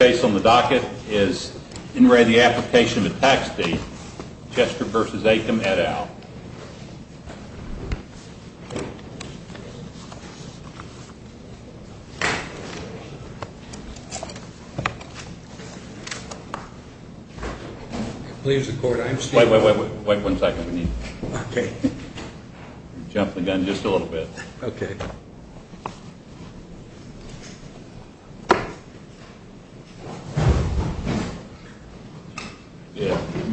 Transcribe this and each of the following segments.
The case on the docket is in re Application for Tax Deed-Chester v. Acomb et al.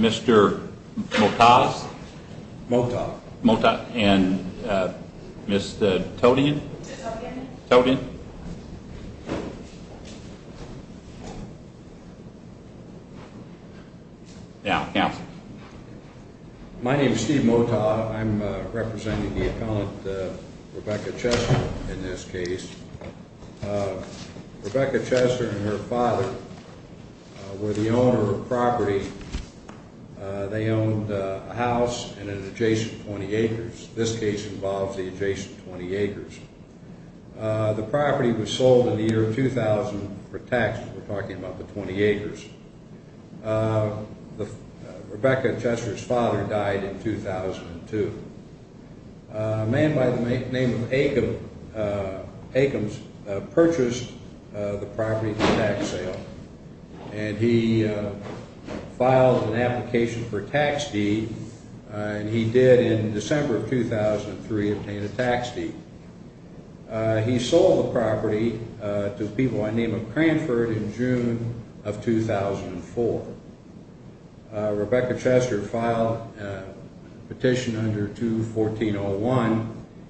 Mr. Mota and Mr. Totian. My name is Steve Mota. I'm representing the accountant Rebecca Chester in this case. Rebecca Chester and her father were the owner of property. They owned a house in an adjacent 20 acres. This case involves the adjacent 20 acres. The property was sold in the year 2000 for tax. We're talking about the 20 acres. Rebecca Chester's father died in 2002. A man by the name of Acomb purchased the property for tax sale. He filed an application for tax deed. He did in December of 2003 obtain a tax deed. He sold the property to a people by the name of Cranford in June of 2004. Rebecca Chester filed a petition under 214-01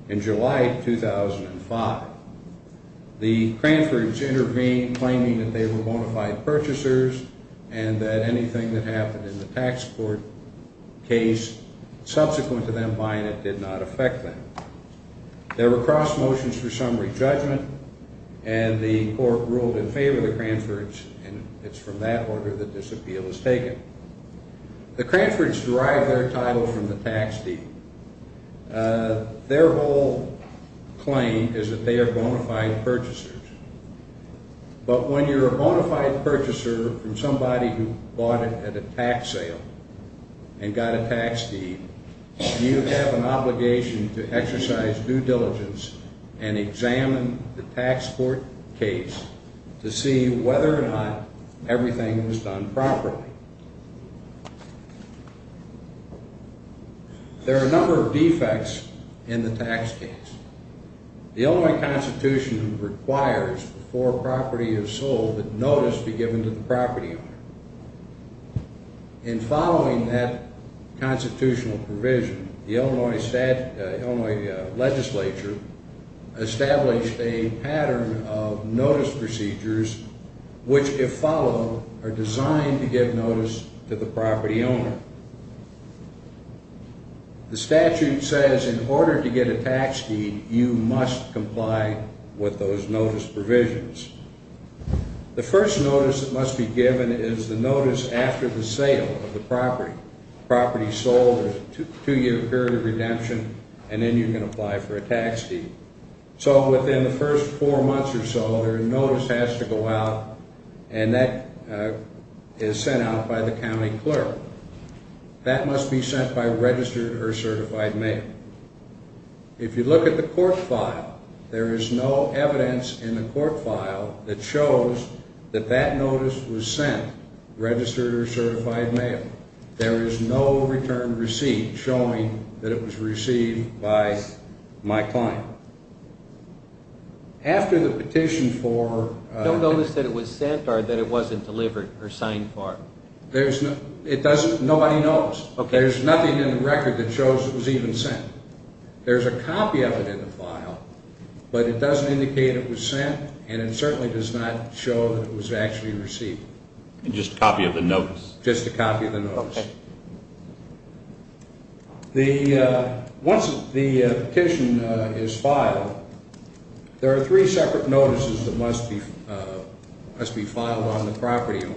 in July of 2005. The Cranfords intervened claiming that they were bona fide purchasers and that anything that happened in the tax court case subsequent to them buying it did not affect them. There were cross motions for summary judgment and the court ruled in favor of the Cranfords and it's from that order that this appeal is taken. The Cranfords derived their title from the tax deed. Their whole claim is that they are bona fide purchasers. But when you're a bona fide purchaser from somebody who bought it at a tax sale and got a tax deed, you have an obligation to exercise due diligence and examine the tax court case to see whether or not everything was done properly. There are a number of defects in the tax case. The Illinois Constitution requires before property is sold that notice be given to the property owner. In following that constitutional provision, the Illinois legislature established a pattern of notice procedures which, if followed, are designed to give notice to the property owner. The statute says in order to get a tax deed, you must comply with those notice provisions. The first notice that must be given is the notice after the sale of the property. The property is sold, there's a two-year period of redemption, and then you can apply for a tax deed. So within the first four months or so, their notice has to go out and that is sent out by the county clerk. That must be sent by registered or certified mail. If you look at the court file, there is no evidence in the court file that shows that that notice was sent, registered or certified mail. There is no return received showing that it was received by my client. After the petition for... Don't notice that it was sent or that it wasn't delivered or signed for. Nobody knows. There's nothing in the record that shows it was even sent. There's a copy of it in the file, but it doesn't indicate it was sent and it certainly does not show that it was actually received. Just a copy of the notice. Just a copy of the notice. Once the petition is filed, there are three separate notices that must be filed on the property owner.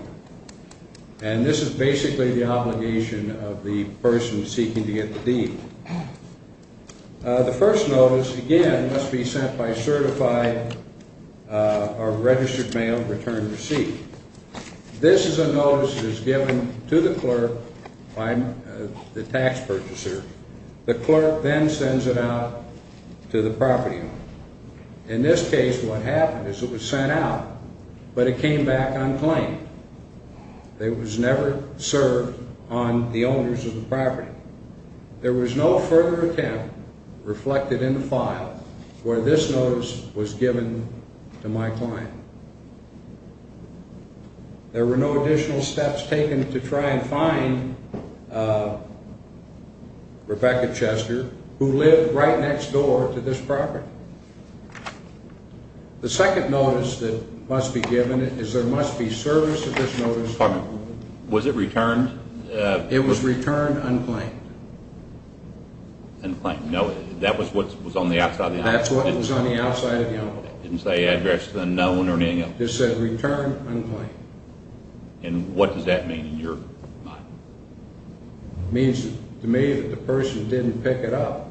And this is basically the obligation of the person seeking to get the deed. The first notice, again, must be sent by certified or registered mail return receipt. This is a notice that is given to the clerk by the tax purchaser. The clerk then sends it out to the property owner. In this case, what happened is it was sent out, but it came back unclaimed. It was never served on the owners of the property. There was no further attempt reflected in the file where this notice was given to my client. There were no additional steps taken to try and find Rebecca Chester, who lived right next door to this property. The second notice that must be given is there must be service of this notice. Pardon me. Was it returned? It was returned unclaimed. Unclaimed. No, that was what was on the outside of the envelope? That's what was on the outside of the envelope. It didn't say address, then no one or anything else? It just said returned unclaimed. And what does that mean in your mind? It means to me that the person didn't pick it up.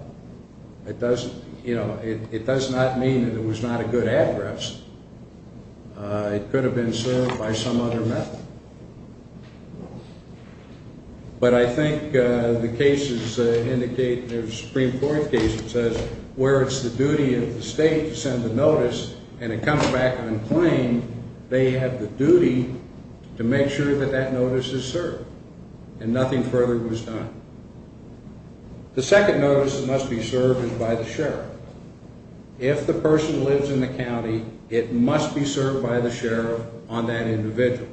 It does not mean that it was not a good address. It could have been served by some other method. But I think the cases indicate, there's a Supreme Court case that says where it's the duty of the state to send the notice and it comes back unclaimed, they have the duty to make sure that that notice is served, and nothing further was done. The second notice that must be served is by the sheriff. If the person lives in the county, it must be served by the sheriff on that individual.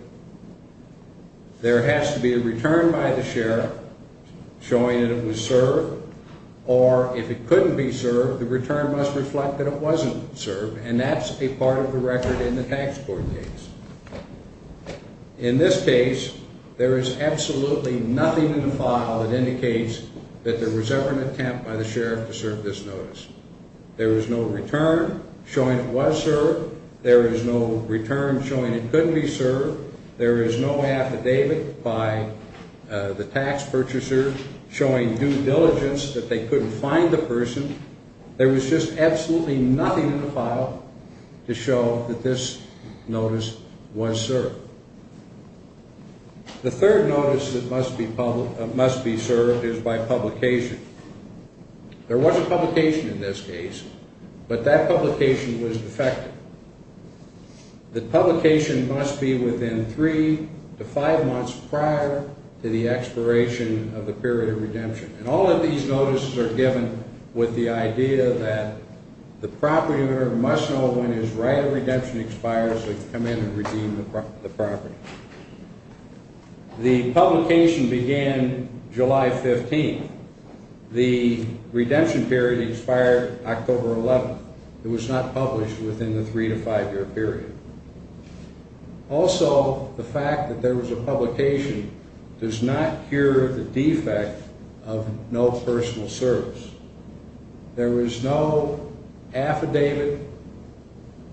There has to be a return by the sheriff showing that it was served, or if it couldn't be served, the return must reflect that it wasn't served, and that's a part of the record in the tax court case. In this case, there is absolutely nothing in the file that indicates that there was ever an attempt by the sheriff to serve this notice. There is no return showing it was served. There is no return showing it couldn't be served. There is no affidavit by the tax purchaser showing due diligence that they couldn't find the person. There was just absolutely nothing in the file to show that this notice was served. The third notice that must be served is by publication. There was a publication in this case, but that publication was defective. The publication must be within three to five months prior to the expiration of the period of redemption, and all of these notices are given with the idea that the property owner must know when his right of redemption expires to come in and redeem the property. The publication began July 15th. The redemption period expired October 11th. It was not published within the three to five year period. Also, the fact that there was a publication does not cure the defect of no personal service. There was no affidavit,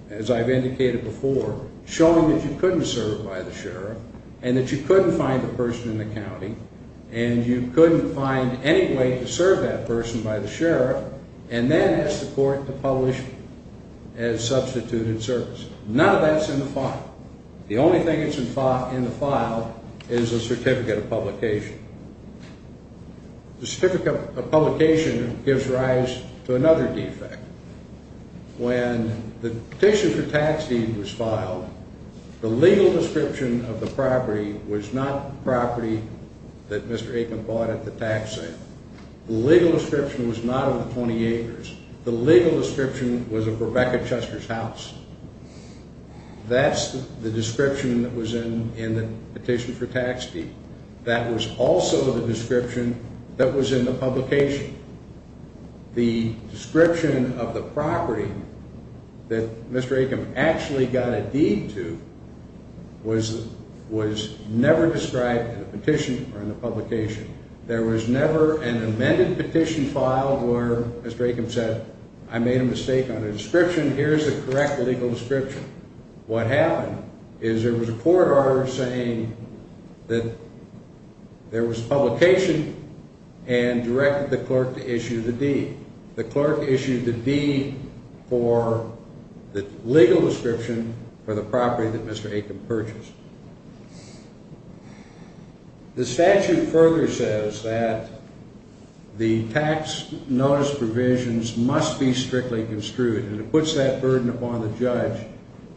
as I've indicated before, showing that you couldn't serve by the sheriff, and that you couldn't find the person in the county, and you couldn't find any way to serve that person by the sheriff, and then ask the court to publish as substituted service. None of that's in the file. The only thing that's in the file is a certificate of publication. The certificate of publication gives rise to another defect. When the petition for tax deed was filed, the legal description of the property was not the property that Mr. Aikman bought at the tax sale. The legal description was not of the 20 acres. The legal description was of Rebecca Chester's house. That's the description that was in the petition for tax deed. That was also the description that was in the publication. The description of the property that Mr. Aikman actually got a deed to was never described in the petition or in the publication. There was never an amended petition filed where Mr. Aikman said, I made a mistake on the description, here's the correct legal description. What happened is there was a court order saying that there was publication and directed the clerk to issue the deed. The clerk issued the deed for the legal description for the property that Mr. Aikman purchased. The statute further says that the tax notice provisions must be strictly construed. And it puts that burden upon the judge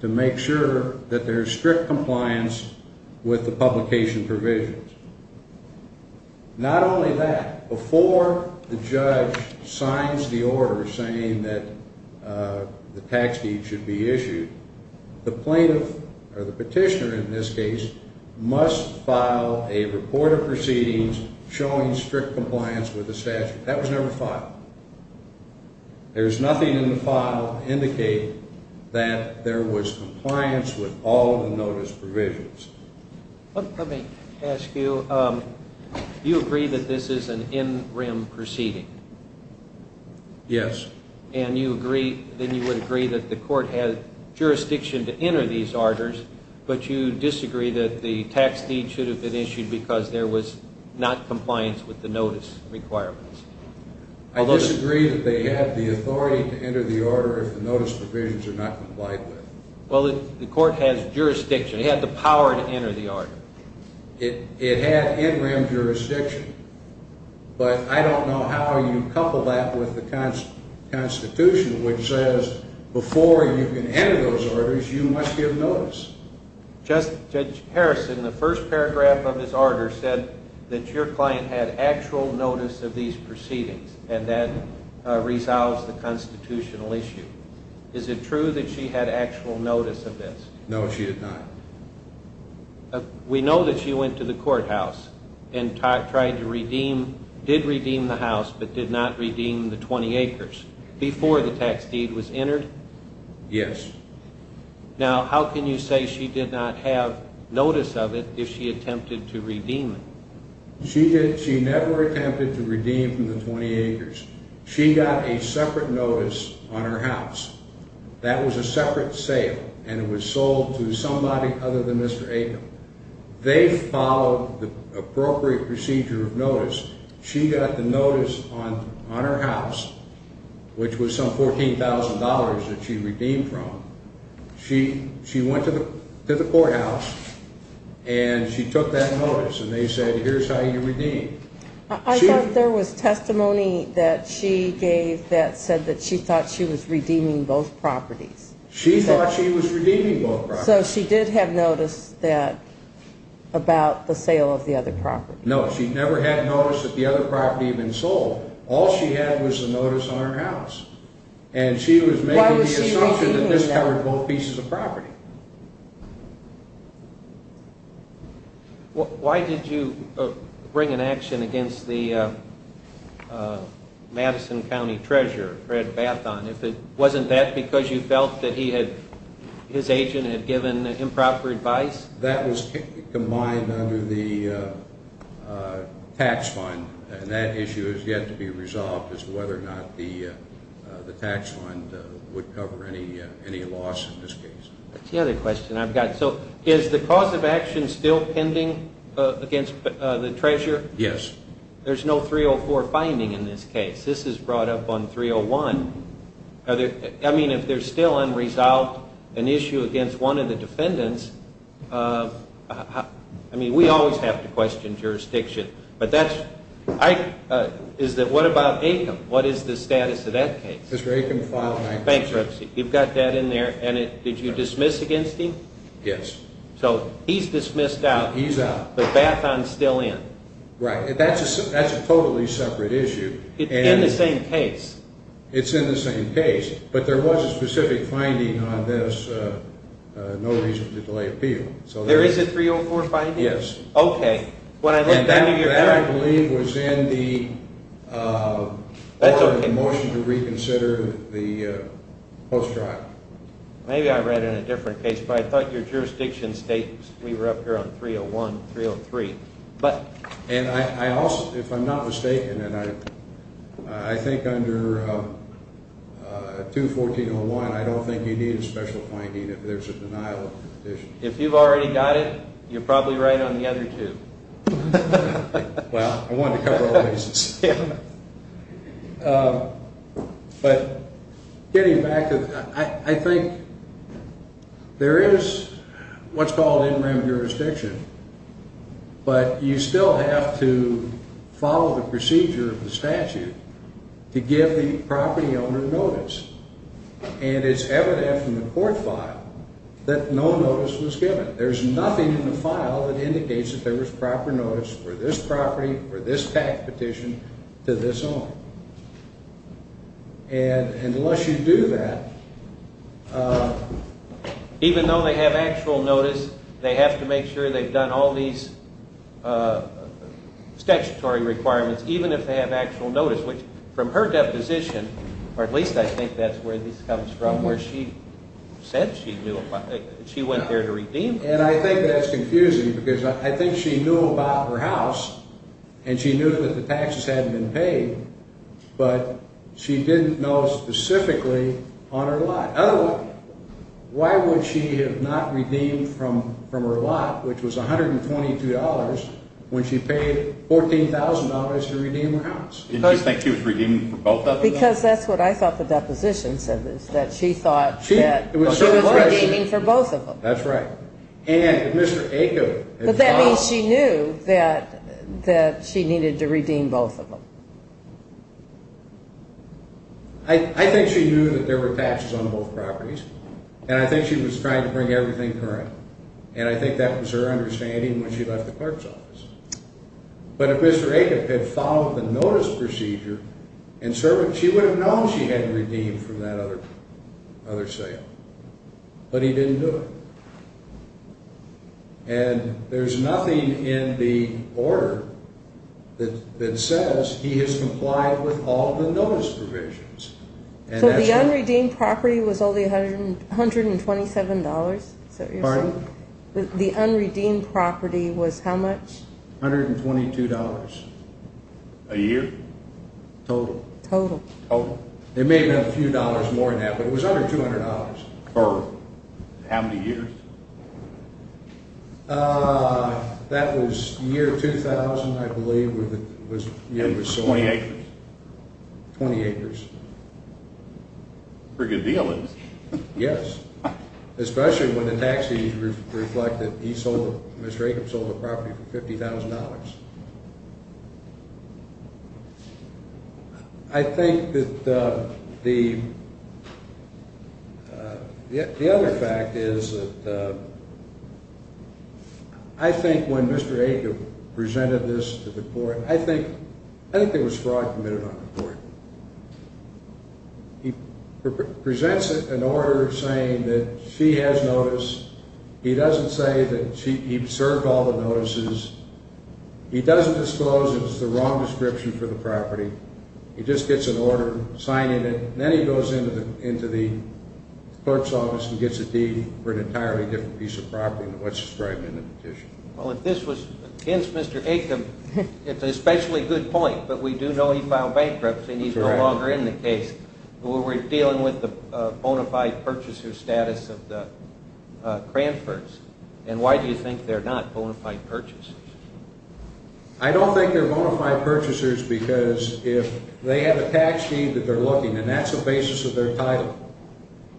to make sure that there's strict compliance with the publication provisions. Not only that, before the judge signs the order saying that the tax deed should be issued, the plaintiff, or the petitioner in this case, must file a report of proceedings showing strict compliance with the statute. That was never filed. There's nothing in the file to indicate that there was compliance with all of the notice provisions. Let me ask you, you agree that this is an in-rim proceeding? Yes. And you agree, then you would agree that the court had jurisdiction to enter these orders, but you disagree that the tax deed should have been issued because there was not compliance with the notice requirements? I disagree that they had the authority to enter the order if the notice provisions are not complied with. Well, the court has jurisdiction. It had the power to enter the order. It had in-rim jurisdiction, but I don't know how you couple that with the Constitution, which says before you can enter those orders, you must give notice. Judge Harrison, the first paragraph of his order said that your client had actual notice of these proceedings, and that resolves the constitutional issue. Is it true that she had actual notice of this? No, she did not. We know that she went to the courthouse and tried to redeem, did redeem the house, but did not redeem the 20 acres before the tax deed was entered? Yes. Now, how can you say she did not have notice of it if she attempted to redeem it? She never attempted to redeem from the 20 acres. She got a separate notice on her house. That was a separate sale, and it was sold to somebody other than Mr. Acom. They followed the appropriate procedure of notice. She got the notice on her house, which was some $14,000 that she redeemed from. She went to the courthouse, and she took that notice, and they said, here's how you redeem. I thought there was testimony that she gave that said that she thought she was redeeming both properties. She thought she was redeeming both properties. So she did have notice about the sale of the other property. No, she never had notice that the other property had been sold. All she had was the notice on her house. And she was making the assumption that this covered both pieces of property. Why did you bring an action against the Madison County Treasurer, Fred Bathon? Wasn't that because you felt that his agent had given improper advice? That was combined under the tax fund, and that issue has yet to be resolved as to whether or not the tax fund would cover any loss in this case. That's the other question I've got. So is the cause of action still pending against the Treasurer? Yes. There's no 304 finding in this case. This is brought up on 301. I mean, if there's still unresolved, an issue against one of the defendants, I mean, we always have to question jurisdiction. What about Acom? What is the status of that case? Mr. Acom filed an action. Bankruptcy. You've got that in there. And did you dismiss against him? Yes. So he's dismissed out. He's out. But Bathon's still in. Right. That's a totally separate issue. It's in the same case. It's in the same case. But there was a specific finding on this, no reason to delay appeal. There is a 304 finding? Yes. Okay. That, I believe, was in the motion to reconsider the post-trial. Maybe I read it in a different case, but I thought your jurisdiction states we were up here on 301, 303. And if I'm not mistaken, I think under 214.01, I don't think you need a special finding if there's a denial of petition. If you've already got it, you're probably right on the other two. Well, I wanted to cover all bases. But getting back, I think there is what's called in-room jurisdiction, but you still have to follow the procedure of the statute to give the property owner notice. And it's evident from the court file that no notice was given. There's nothing in the file that indicates that there was proper notice for this property, for this tax petition, to this owner. And unless you do that, even though they have actual notice, they have to make sure they've done all these statutory requirements, even if they have actual notice, which from her deposition, or at least I think that's where this comes from, where she said she went there to redeem the property. And I think that's confusing because I think she knew about her house, and she knew that the taxes hadn't been paid, but she didn't know specifically on her lot. In other words, why would she have not redeemed from her lot, which was $122, when she paid $14,000 to redeem her house? Did she think she was redeeming for both of them? Because that's what I thought the deposition said, is that she thought that she was redeeming for both of them. That's right. But that means she knew that she needed to redeem both of them. I think she knew that there were taxes on both properties, and I think she was trying to bring everything to her end. And I think that was her understanding when she left the clerk's office. But if Mr. Acob had followed the notice procedure, she would have known she had redeemed from that other sale. But he didn't do it. And there's nothing in the order that says he has complied with all the notice provisions. So the unredeemed property was only $127? Pardon? The unredeemed property was how much? $122. A year? Total. Total. It may have been a few dollars more than that, but it was under $200. Per how many years? That was the year 2000, I believe, was the year it was sold. 20 acres? 20 acres. Pretty good deal, isn't it? Yes. Especially when the taxes reflect that Mr. Acob sold the property for $50,000. I think that the other fact is that I think when Mr. Acob presented this to the court, I think there was fraud committed on the court. He presents an order saying that she has notice. He doesn't say that he served all the notices. He doesn't disclose it was the wrong description for the property. He just gets an order signing it, and then he goes into the clerk's office and gets a deed for an entirely different piece of property than what's described in the petition. Well, if this was against Mr. Acob, it's an especially good point, but we do know he filed bankruptcy, and he's no longer in the case. We're dealing with the bona fide purchaser status of the Cranfords, and why do you think they're not bona fide purchasers? I don't think they're bona fide purchasers because if they have a tax deed that they're looking, and that's the basis of their title,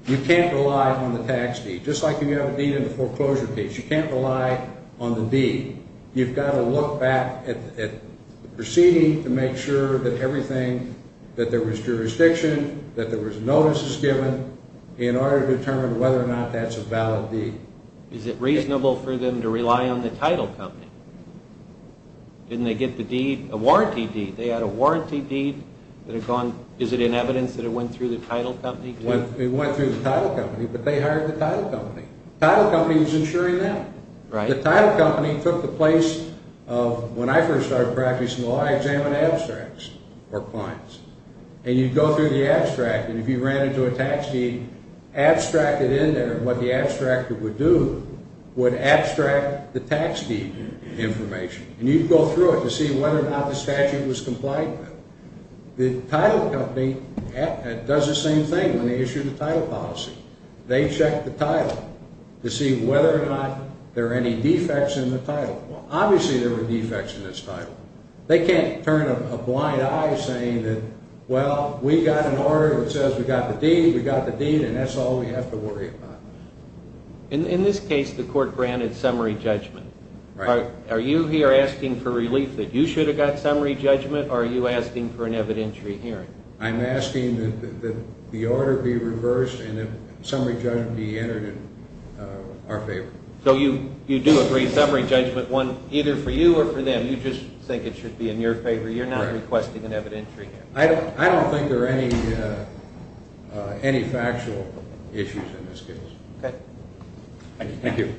you can't rely on the tax deed. Just like if you have a deed in the foreclosure case, you can't rely on the deed. You've got to look back at the proceeding to make sure that everything, that there was jurisdiction, that there was notices given in order to determine whether or not that's a valid deed. Is it reasonable for them to rely on the title company? Didn't they get the deed, a warranty deed? They had a warranty deed that had gone, is it in evidence that it went through the title company? It went through the title company, but they hired the title company. The title company was insuring them. The title company took the place of, when I first started practicing law, I examined abstracts or points. And you'd go through the abstract, and if you ran into a tax deed, abstract it in there. What the abstractor would do would abstract the tax deed information, and you'd go through it to see whether or not the statute was compliant with it. The title company does the same thing when they issue the title policy. They check the title to see whether or not there are any defects in the title. Well, obviously there were defects in this title. They can't turn a blind eye saying that, well, we got an order that says we got the deed, we got the deed, and that's all we have to worry about. In this case, the court granted summary judgment. Right. Are you here asking for relief that you should have got summary judgment, or are you asking for an evidentiary hearing? I'm asking that the order be reversed and that summary judgment be entered in our favor. So you do agree, summary judgment won either for you or for them. You just think it should be in your favor. You're not requesting an evidentiary hearing. I don't think there are any factual issues in this case. Okay. Thank you. Thank you.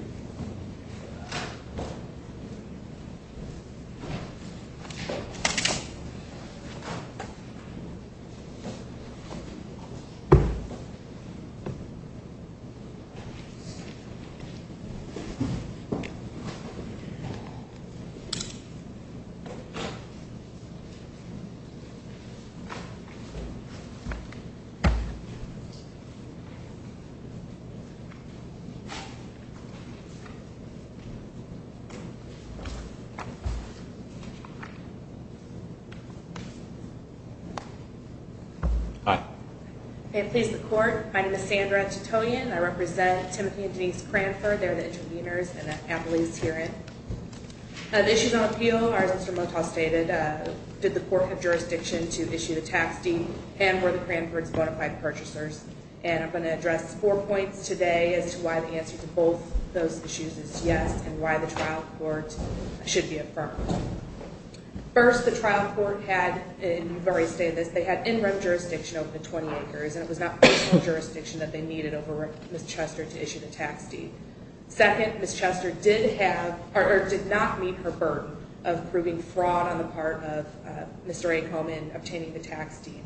Hi. May it please the Court, my name is Sandra Titoyan. I represent Timothy and Denise Cranford. They're the interveners in the appellee's hearing. The issues on appeal, as Mr. Motel stated, did the court have jurisdiction to issue a tax deed, and were the Cranfords bona fide purchasers? And I'm going to address four points today as to why the answer to both those issues is yes, and why the trial court should be affirmed. First, the trial court had, and you've already stated this, they had interim jurisdiction over the 20 acres, and it was not personal jurisdiction that they needed over Ms. Chester to issue the tax deed. Second, Ms. Chester did not meet her burden of proving fraud on the part of Mr. A. Coleman obtaining the tax deed.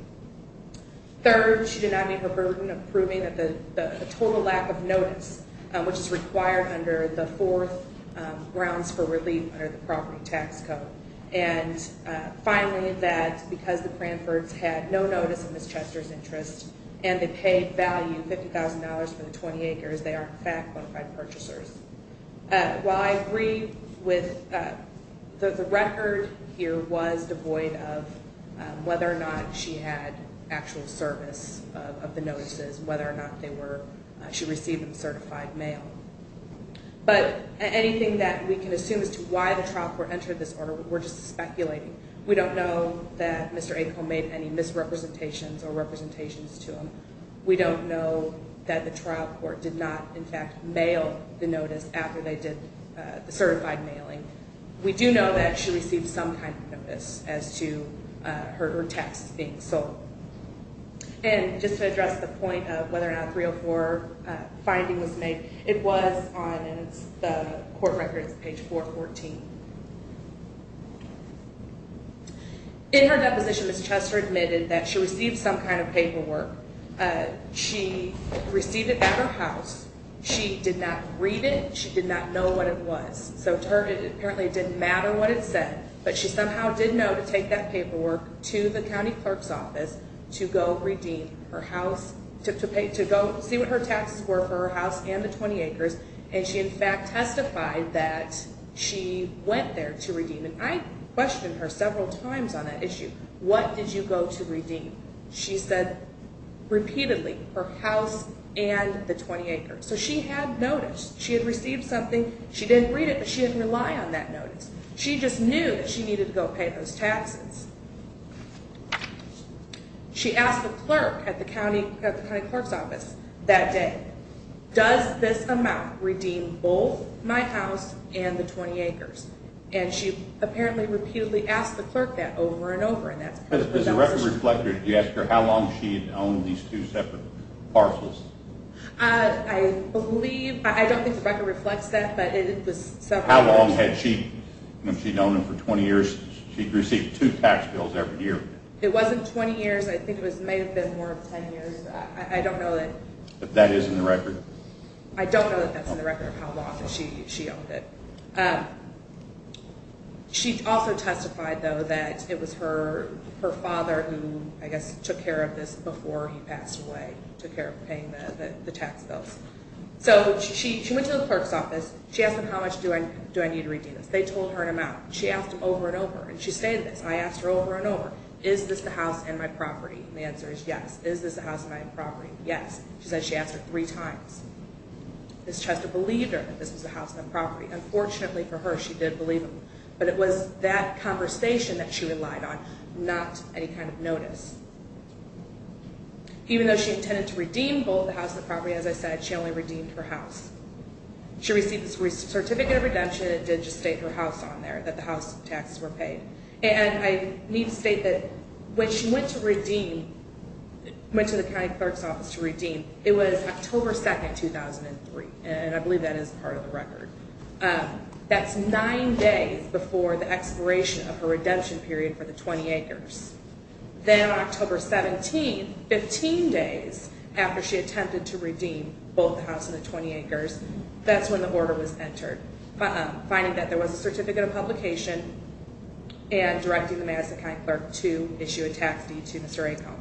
Third, she did not meet her burden of proving that the total lack of notice, which is required under the fourth grounds for relief under the property tax code. And finally, that because the Cranfords had no notice of Ms. Chester's interest, and they paid value, $50,000 for the 20 acres, they are in fact bona fide purchasers. While I agree with the record here was devoid of whether or not she had actual service of the notices, whether or not they were, she received them certified mail. But anything that we can assume as to why the trial court entered this order, we're just speculating. We don't know that Mr. A. Coleman made any misrepresentations or representations to him. We don't know that the trial court did not in fact mail the notice after they did the certified mailing. We do know that she received some kind of notice as to her tax being sold. And just to address the point of whether or not 304 finding was made, it was on the court records, page 414. In her deposition, Ms. Chester admitted that she received some kind of paperwork. She received it at her house. She did not read it. She did not know what it was. So apparently it didn't matter what it said, but she somehow did know to take that paperwork to the county clerk's office to go see what her taxes were for her house and the 20 acres. And she in fact testified that she went there to redeem. And I questioned her several times on that issue. What did you go to redeem? She said repeatedly, her house and the 20 acres. So she had notice. She had received something. She didn't read it, but she didn't rely on that notice. She just knew that she needed to go pay those taxes. She asked the clerk at the county clerk's office that day, does this amount redeem both my house and the 20 acres? And she apparently repeatedly asked the clerk that over and over. Does the record reflect that? Did you ask her how long she had owned these two separate parcels? I believe, I don't think the record reflects that, but it was several years. How long had she known them for 20 years? She received two tax bills every year. It wasn't 20 years. I think it may have been more of 10 years. I don't know that. If that is in the record? I don't know that that's in the record, how long she owned it. She also testified, though, that it was her father who, I guess, took care of this before he passed away, took care of paying the tax bills. So she went to the clerk's office. She asked him how much do I need to redeem this? They told her an amount. She asked him over and over, and she stated this, and I asked her over and over, is this the house and my property? And the answer is yes. Is this the house and my property? Yes. She said she asked her three times. This tries to believe her that this is the house and the property. Unfortunately for her, she did believe him, but it was that conversation that she relied on, not any kind of notice. Even though she intended to redeem both the house and the property, as I said, she only redeemed her house. She received this certificate of redemption and did just state her house on there, that the house taxes were paid. And I need to state that when she went to redeem, went to the county clerk's office to redeem, it was October 2, 2003, and I believe that is part of the record. That's nine days before the expiration of her redemption period for the 20 acres. Then on October 17, 15 days after she attempted to redeem both the house and the 20 acres, that's when the order was entered, finding that there was a certificate of publication and directing the Madison County Clerk to issue a tax deed to Mr. Acone.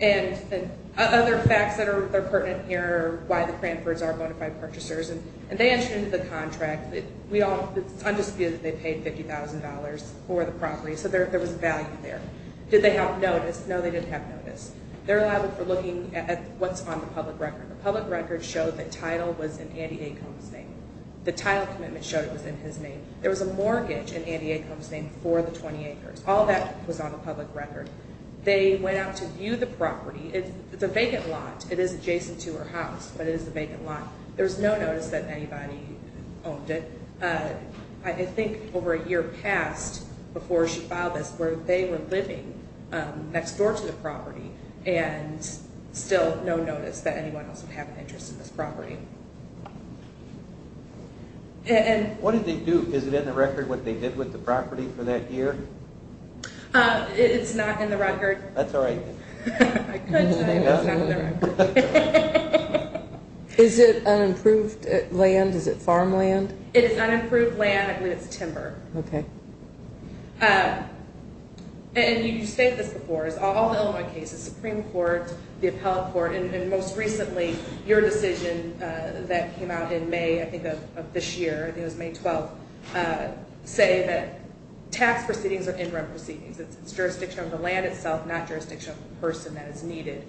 And other facts that are pertinent here, why the Cranfords are bonafide purchasers, and they entered into the contract. It's undisputed that they paid $50,000 for the property, so there was value there. Did they have notice? No, they didn't have notice. They're liable for looking at what's on the public record. The public record showed that title was in Andy Acone's name. The title commitment showed it was in his name. There was a mortgage in Andy Acone's name for the 20 acres. All that was on the public record. They went out to view the property. It's a vacant lot. It is adjacent to her house, but it is a vacant lot. There was no notice that anybody owned it. I think over a year passed before she filed this where they were living next door to the property and still no notice that anyone else would have an interest in this property. What did they do? Is it in the record what they did with the property for that year? It's not in the record. That's all right then. I couldn't say it was not in the record. Is it unimproved land? Is it farmland? It is unimproved land. I believe it's timber. You stated this before. All the Illinois cases, the Supreme Court, the Appellate Court, and most recently your decision that came out in May of this year, I think it was May 12th, say that tax proceedings are interim proceedings. It's jurisdiction of the land itself, not jurisdiction of the person that is needed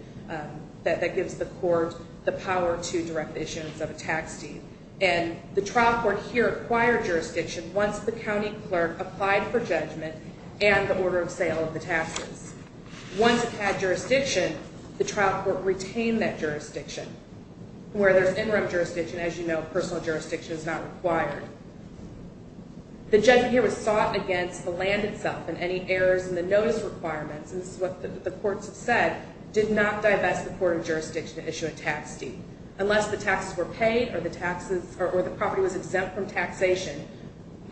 that gives the court the power to direct the issuance of a tax deed. And the trial court here acquired jurisdiction once the county clerk applied for judgment and the order of sale of the taxes. Once it had jurisdiction, the trial court retained that jurisdiction. Where there's interim jurisdiction, as you know, personal jurisdiction is not required. The judgment here was sought against the land itself and any errors in the notice requirements, and this is what the courts have said, did not divest the court of jurisdiction to issue a tax deed. Unless the taxes were paid or the property was exempt from taxation,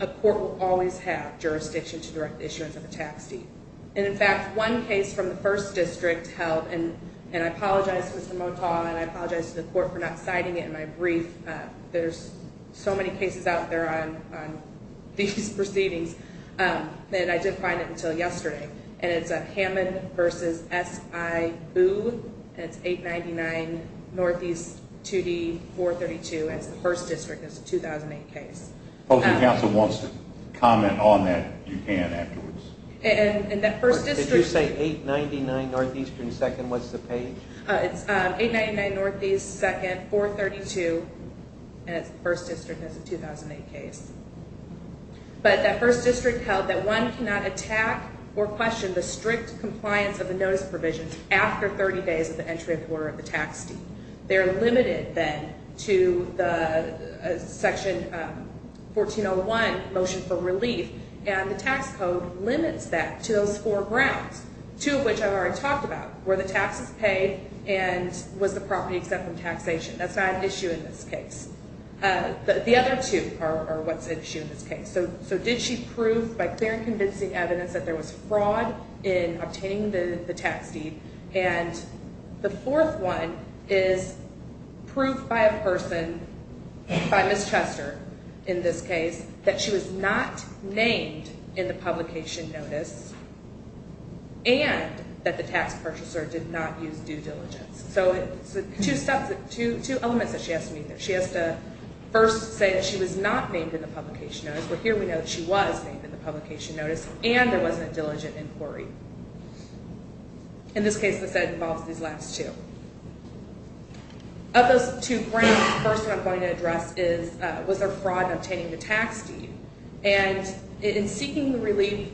a court will always have jurisdiction to direct the issuance of a tax deed. And in fact, one case from the first district held, and I apologize to Mr. Motaw and I apologize to the court for not citing it in my brief. There's so many cases out there on these proceedings that I didn't find it until yesterday. And it's a Hammond v. S.I. Booth, and it's 899 Northeast 2D 432, and it's the first district. It's a 2008 case. If the council wants to comment on that, you can afterwards. And that first district... Did you say 899 Northeastern 2nd, what's the page? It's 899 Northeast 2nd, 432, and it's the first district. It's a 2008 case. But that first district held that one cannot attack or question the strict compliance of the notice provisions after 30 days of the entry of order of the tax deed. They're limited then to the Section 1401 motion for relief, and the tax code limits that to those four grounds, two of which I've already talked about, where the tax is paid and was the property exempt from taxation. That's not an issue in this case. The other two are what's an issue in this case. So did she prove by clear and convincing evidence that there was fraud in obtaining the tax deed? And the fourth one is proof by a person, by Ms. Chester in this case, that she was not named in the publication notice and that the tax purchaser did not use due diligence. So two elements that she has to meet there. She has to first say that she was not named in the publication notice, but here we know that she was named in the publication notice and there wasn't a diligent inquiry. In this case, this involves these last two. Of those two grounds, the first one I'm going to address was there fraud in obtaining the tax deed. And in seeking relief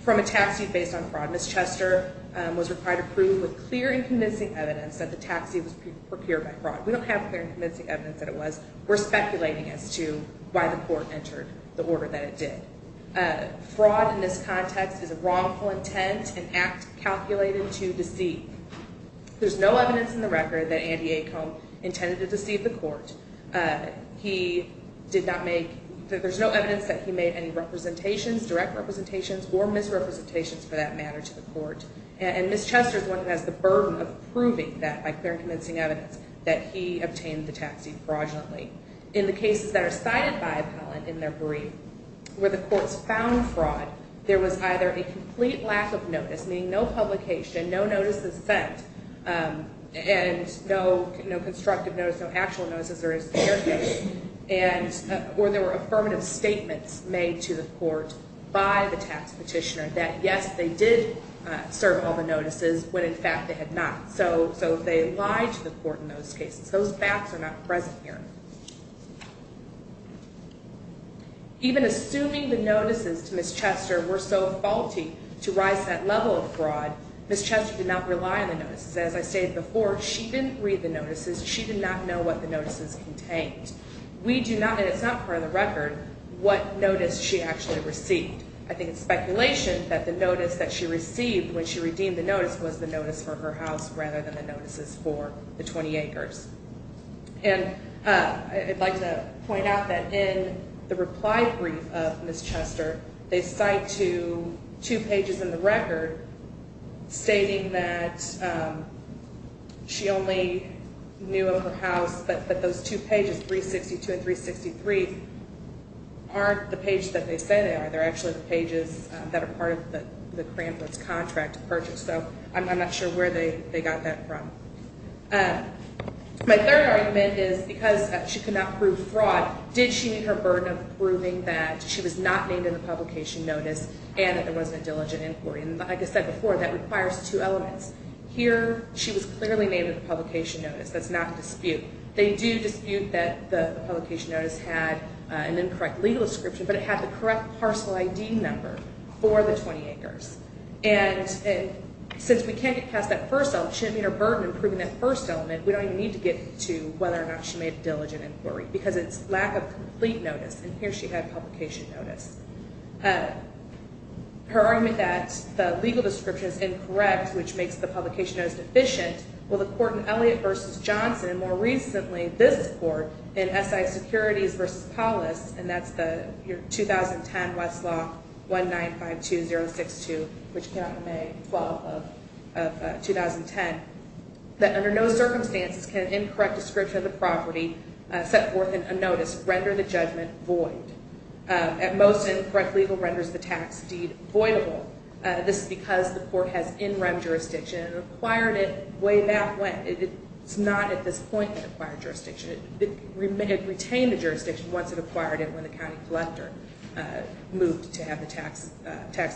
from a tax deed based on fraud, Ms. Chester was required to prove with clear and convincing evidence that the tax deed was procured by fraud. We don't have clear and convincing evidence that it was. We're speculating as to why the court entered the order that it did. Fraud in this context is a wrongful intent, an act calculated to deceive. There's no evidence in the record that Andy Acomb intended to deceive the court. He did not make, there's no evidence that he made any representations, direct representations, or misrepresentations for that matter to the court. And Ms. Chester is the one who has the burden of proving that by clear and convincing evidence that he obtained the tax deed fraudulently. In the cases that are cited by appellant in their brief, where the courts found fraud, there was either a complete lack of notice, meaning no publication, no notice is sent, and no constructive notice, no actual notice as there is in their case, or there were affirmative statements made to the court by the tax petitioner that yes, they did serve all the notices, when in fact they had not. So they lied to the court in those cases. Those facts are not present here. Even assuming the notices to Ms. Chester were so faulty to rise to that level of fraud, Ms. Chester did not rely on the notices. As I stated before, she didn't read the notices. She did not know what the notices contained. We do not, and it's not part of the record, what notice she actually received. I think it's speculation that the notice that she received when she redeemed the notice was the notice for her house rather than the notices for the 20 acres. And I'd like to point out that in the reply brief of Ms. Chester, they cite two pages in the record stating that she only knew of her house, but those two pages, 362 and 363, aren't the pages that they say they are. They're actually the pages that are part of the Krampus contract purchase. So I'm not sure where they got that from. My third argument is because she could not prove fraud, did she meet her burden of proving that she was not named in the publication notice and that there wasn't a diligent inquiry? And like I said before, that requires two elements. Here, she was clearly named in the publication notice. That's not a dispute. They do dispute that the publication notice had an incorrect legal description, but it had the correct parcel ID number for the 20 acres. And since we can't get past that first element, she didn't meet her burden of proving that first element. We don't even need to get to whether or not she made a diligent inquiry because it's lack of complete notice. And here she had a publication notice. Her argument that the legal description is incorrect, which makes the publication notice deficient, well, the court in Elliott v. Johnson, and more recently this court in SI Securities v. Paulus, and that's the 2010 Westlaw 1952062, which came out in May 12th of 2010, that under no circumstances can an incorrect description of the property set forth in a notice render the judgment void. At most, incorrect legal renders the tax deed voidable. This is because the court has in-rem jurisdiction and acquired it way back when. It's not at this point in acquired jurisdiction. It retained the jurisdiction once it acquired it when the county collector moved to have the taxes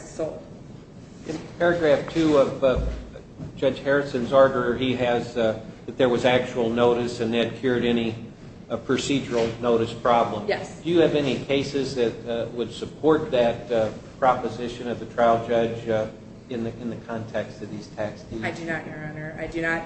sold. In paragraph two of Judge Harrison's order, he has that there was actual notice and that cured any procedural notice problem. Yes. Do you have any cases that would support that proposition of the trial judge in the context of these tax deeds? I do not, Your Honor. I do not.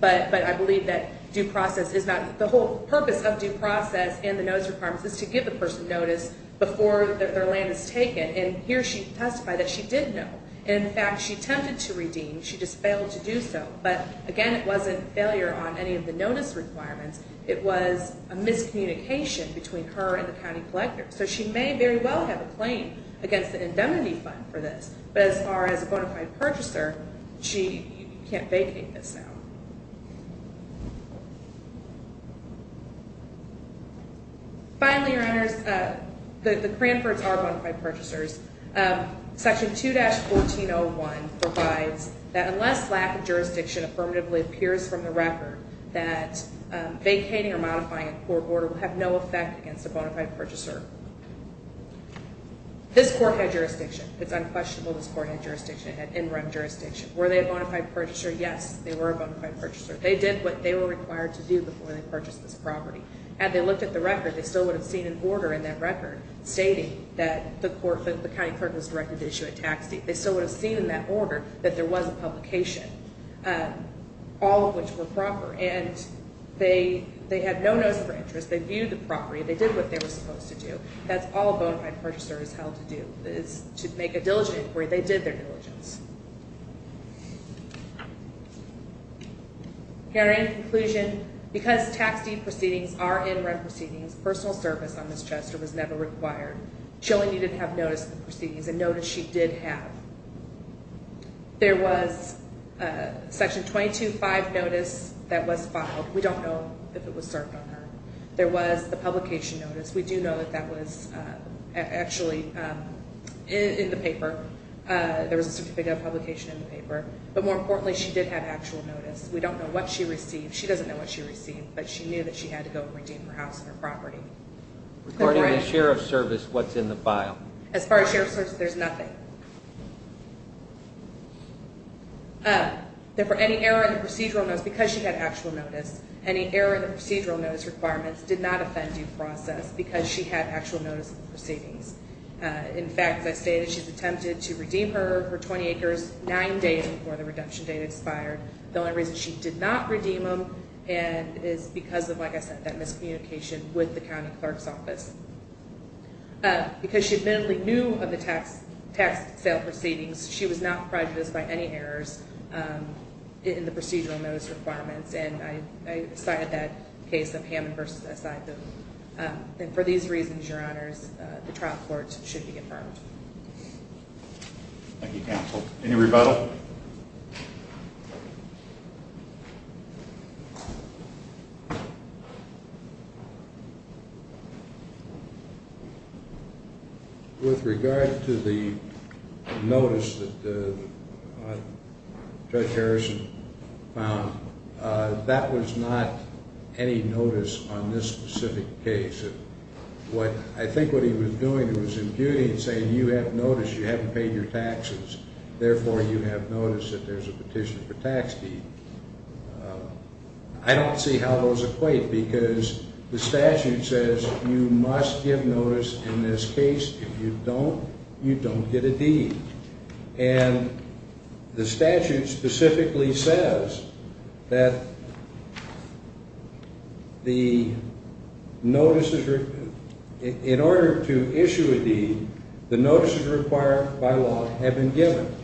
But I believe that due process is not the whole purpose of due process and the notice requirements is to give the person notice before their land is taken. And here she testified that she did know. In fact, she attempted to redeem. She just failed to do so. But again, it wasn't failure on any of the notice requirements. It was a miscommunication between her and the county collector. So she may very well have a claim against the indemnity fund for this. But as far as a bona fide purchaser, she can't vacate this now. Finally, Your Honors, the Cranfords are bona fide purchasers. Section 2-1401 provides that unless lack of jurisdiction affirmatively appears from the record, that vacating or modifying a court order will have no effect against a bona fide purchaser. This court had jurisdiction. It's unquestionable this court had jurisdiction. It had interim jurisdiction. Were they a bona fide purchaser? Yes, they were a bona fide purchaser. They did what they were required to do before they purchased this property. Had they looked at the record, they still would have seen an order in that record stating that the county clerk was directed to issue a tax deed. They still would have seen in that order that there was a publication, all of which were proper. And they had no notice for interest. They viewed the property. They did what they were supposed to do. That's all a bona fide purchaser is held to do is to make a diligent inquiry. They did their diligence. In conclusion, because tax deed proceedings are interim proceedings, personal service on Ms. Chester was never required. She only needed to have notice of the proceedings, a notice she did have. There was Section 22-5 notice that was filed. We don't know if it was served on her. There was the publication notice. We do know that that was actually in the paper. There was a certificate of publication in the paper. But more importantly, she did have actual notice. We don't know what she received. She doesn't know what she received, but she knew that she had to go and redeem her house and her property. Regarding the share of service, what's in the file? As far as share of service, there's nothing. There were any error in the procedural notice. Because she had actual notice, any error in the procedural notice requirements did not offend due process because she had actual notice of the proceedings. In fact, as I stated, she's attempted to redeem her 20 acres nine days before the reduction date expired. The only reason she did not redeem them is because of, like I said, that miscommunication with the county clerk's office. Because she admittedly knew of the tax sale proceedings, she was not prejudiced by any errors in the procedural notice requirements, and I cited that case of Hammond v. Siphon. For these reasons, Your Honors, the trial court should be confirmed. Thank you, counsel. Any rebuttal? With regard to the notice that Judge Harrison found, that was not any notice on this specific case. I think what he was doing was imputing and saying, you have notice, you haven't paid your taxes, therefore you have notice that there's a petition for tax deed. I don't see how those equate because the statute says you must give notice in this case. If you don't, you don't get a deed. And the statute specifically says that in order to issue a deed, the notices required by law have been given,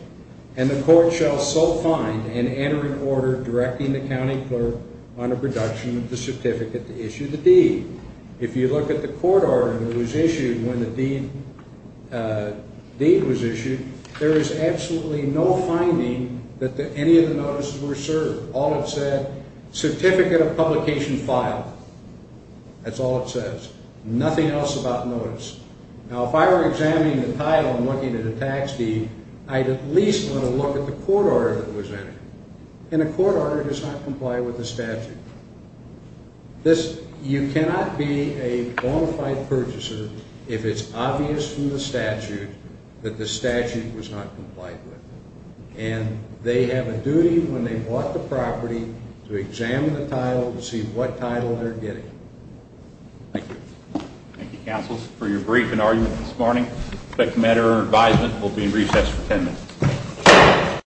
and the court shall so find and enter an order directing the county clerk on a reduction of the certificate to issue the deed. If you look at the court order that was issued when the deed was issued, there is absolutely no finding that any of the notices were served. All it said, certificate of publication filed. That's all it says. Nothing else about notice. Now, if I were examining the title and looking at a tax deed, I'd at least want to look at the court order that was entered. And a court order does not comply with the statute. You cannot be a bona fide purchaser if it's obvious from the statute that the statute was not complied with. And they have a duty when they bought the property to examine the title to see what title they're getting. Thank you. Thank you, counsel. For your brief and argument this morning, the matter of advisement will be in recess for 10 minutes.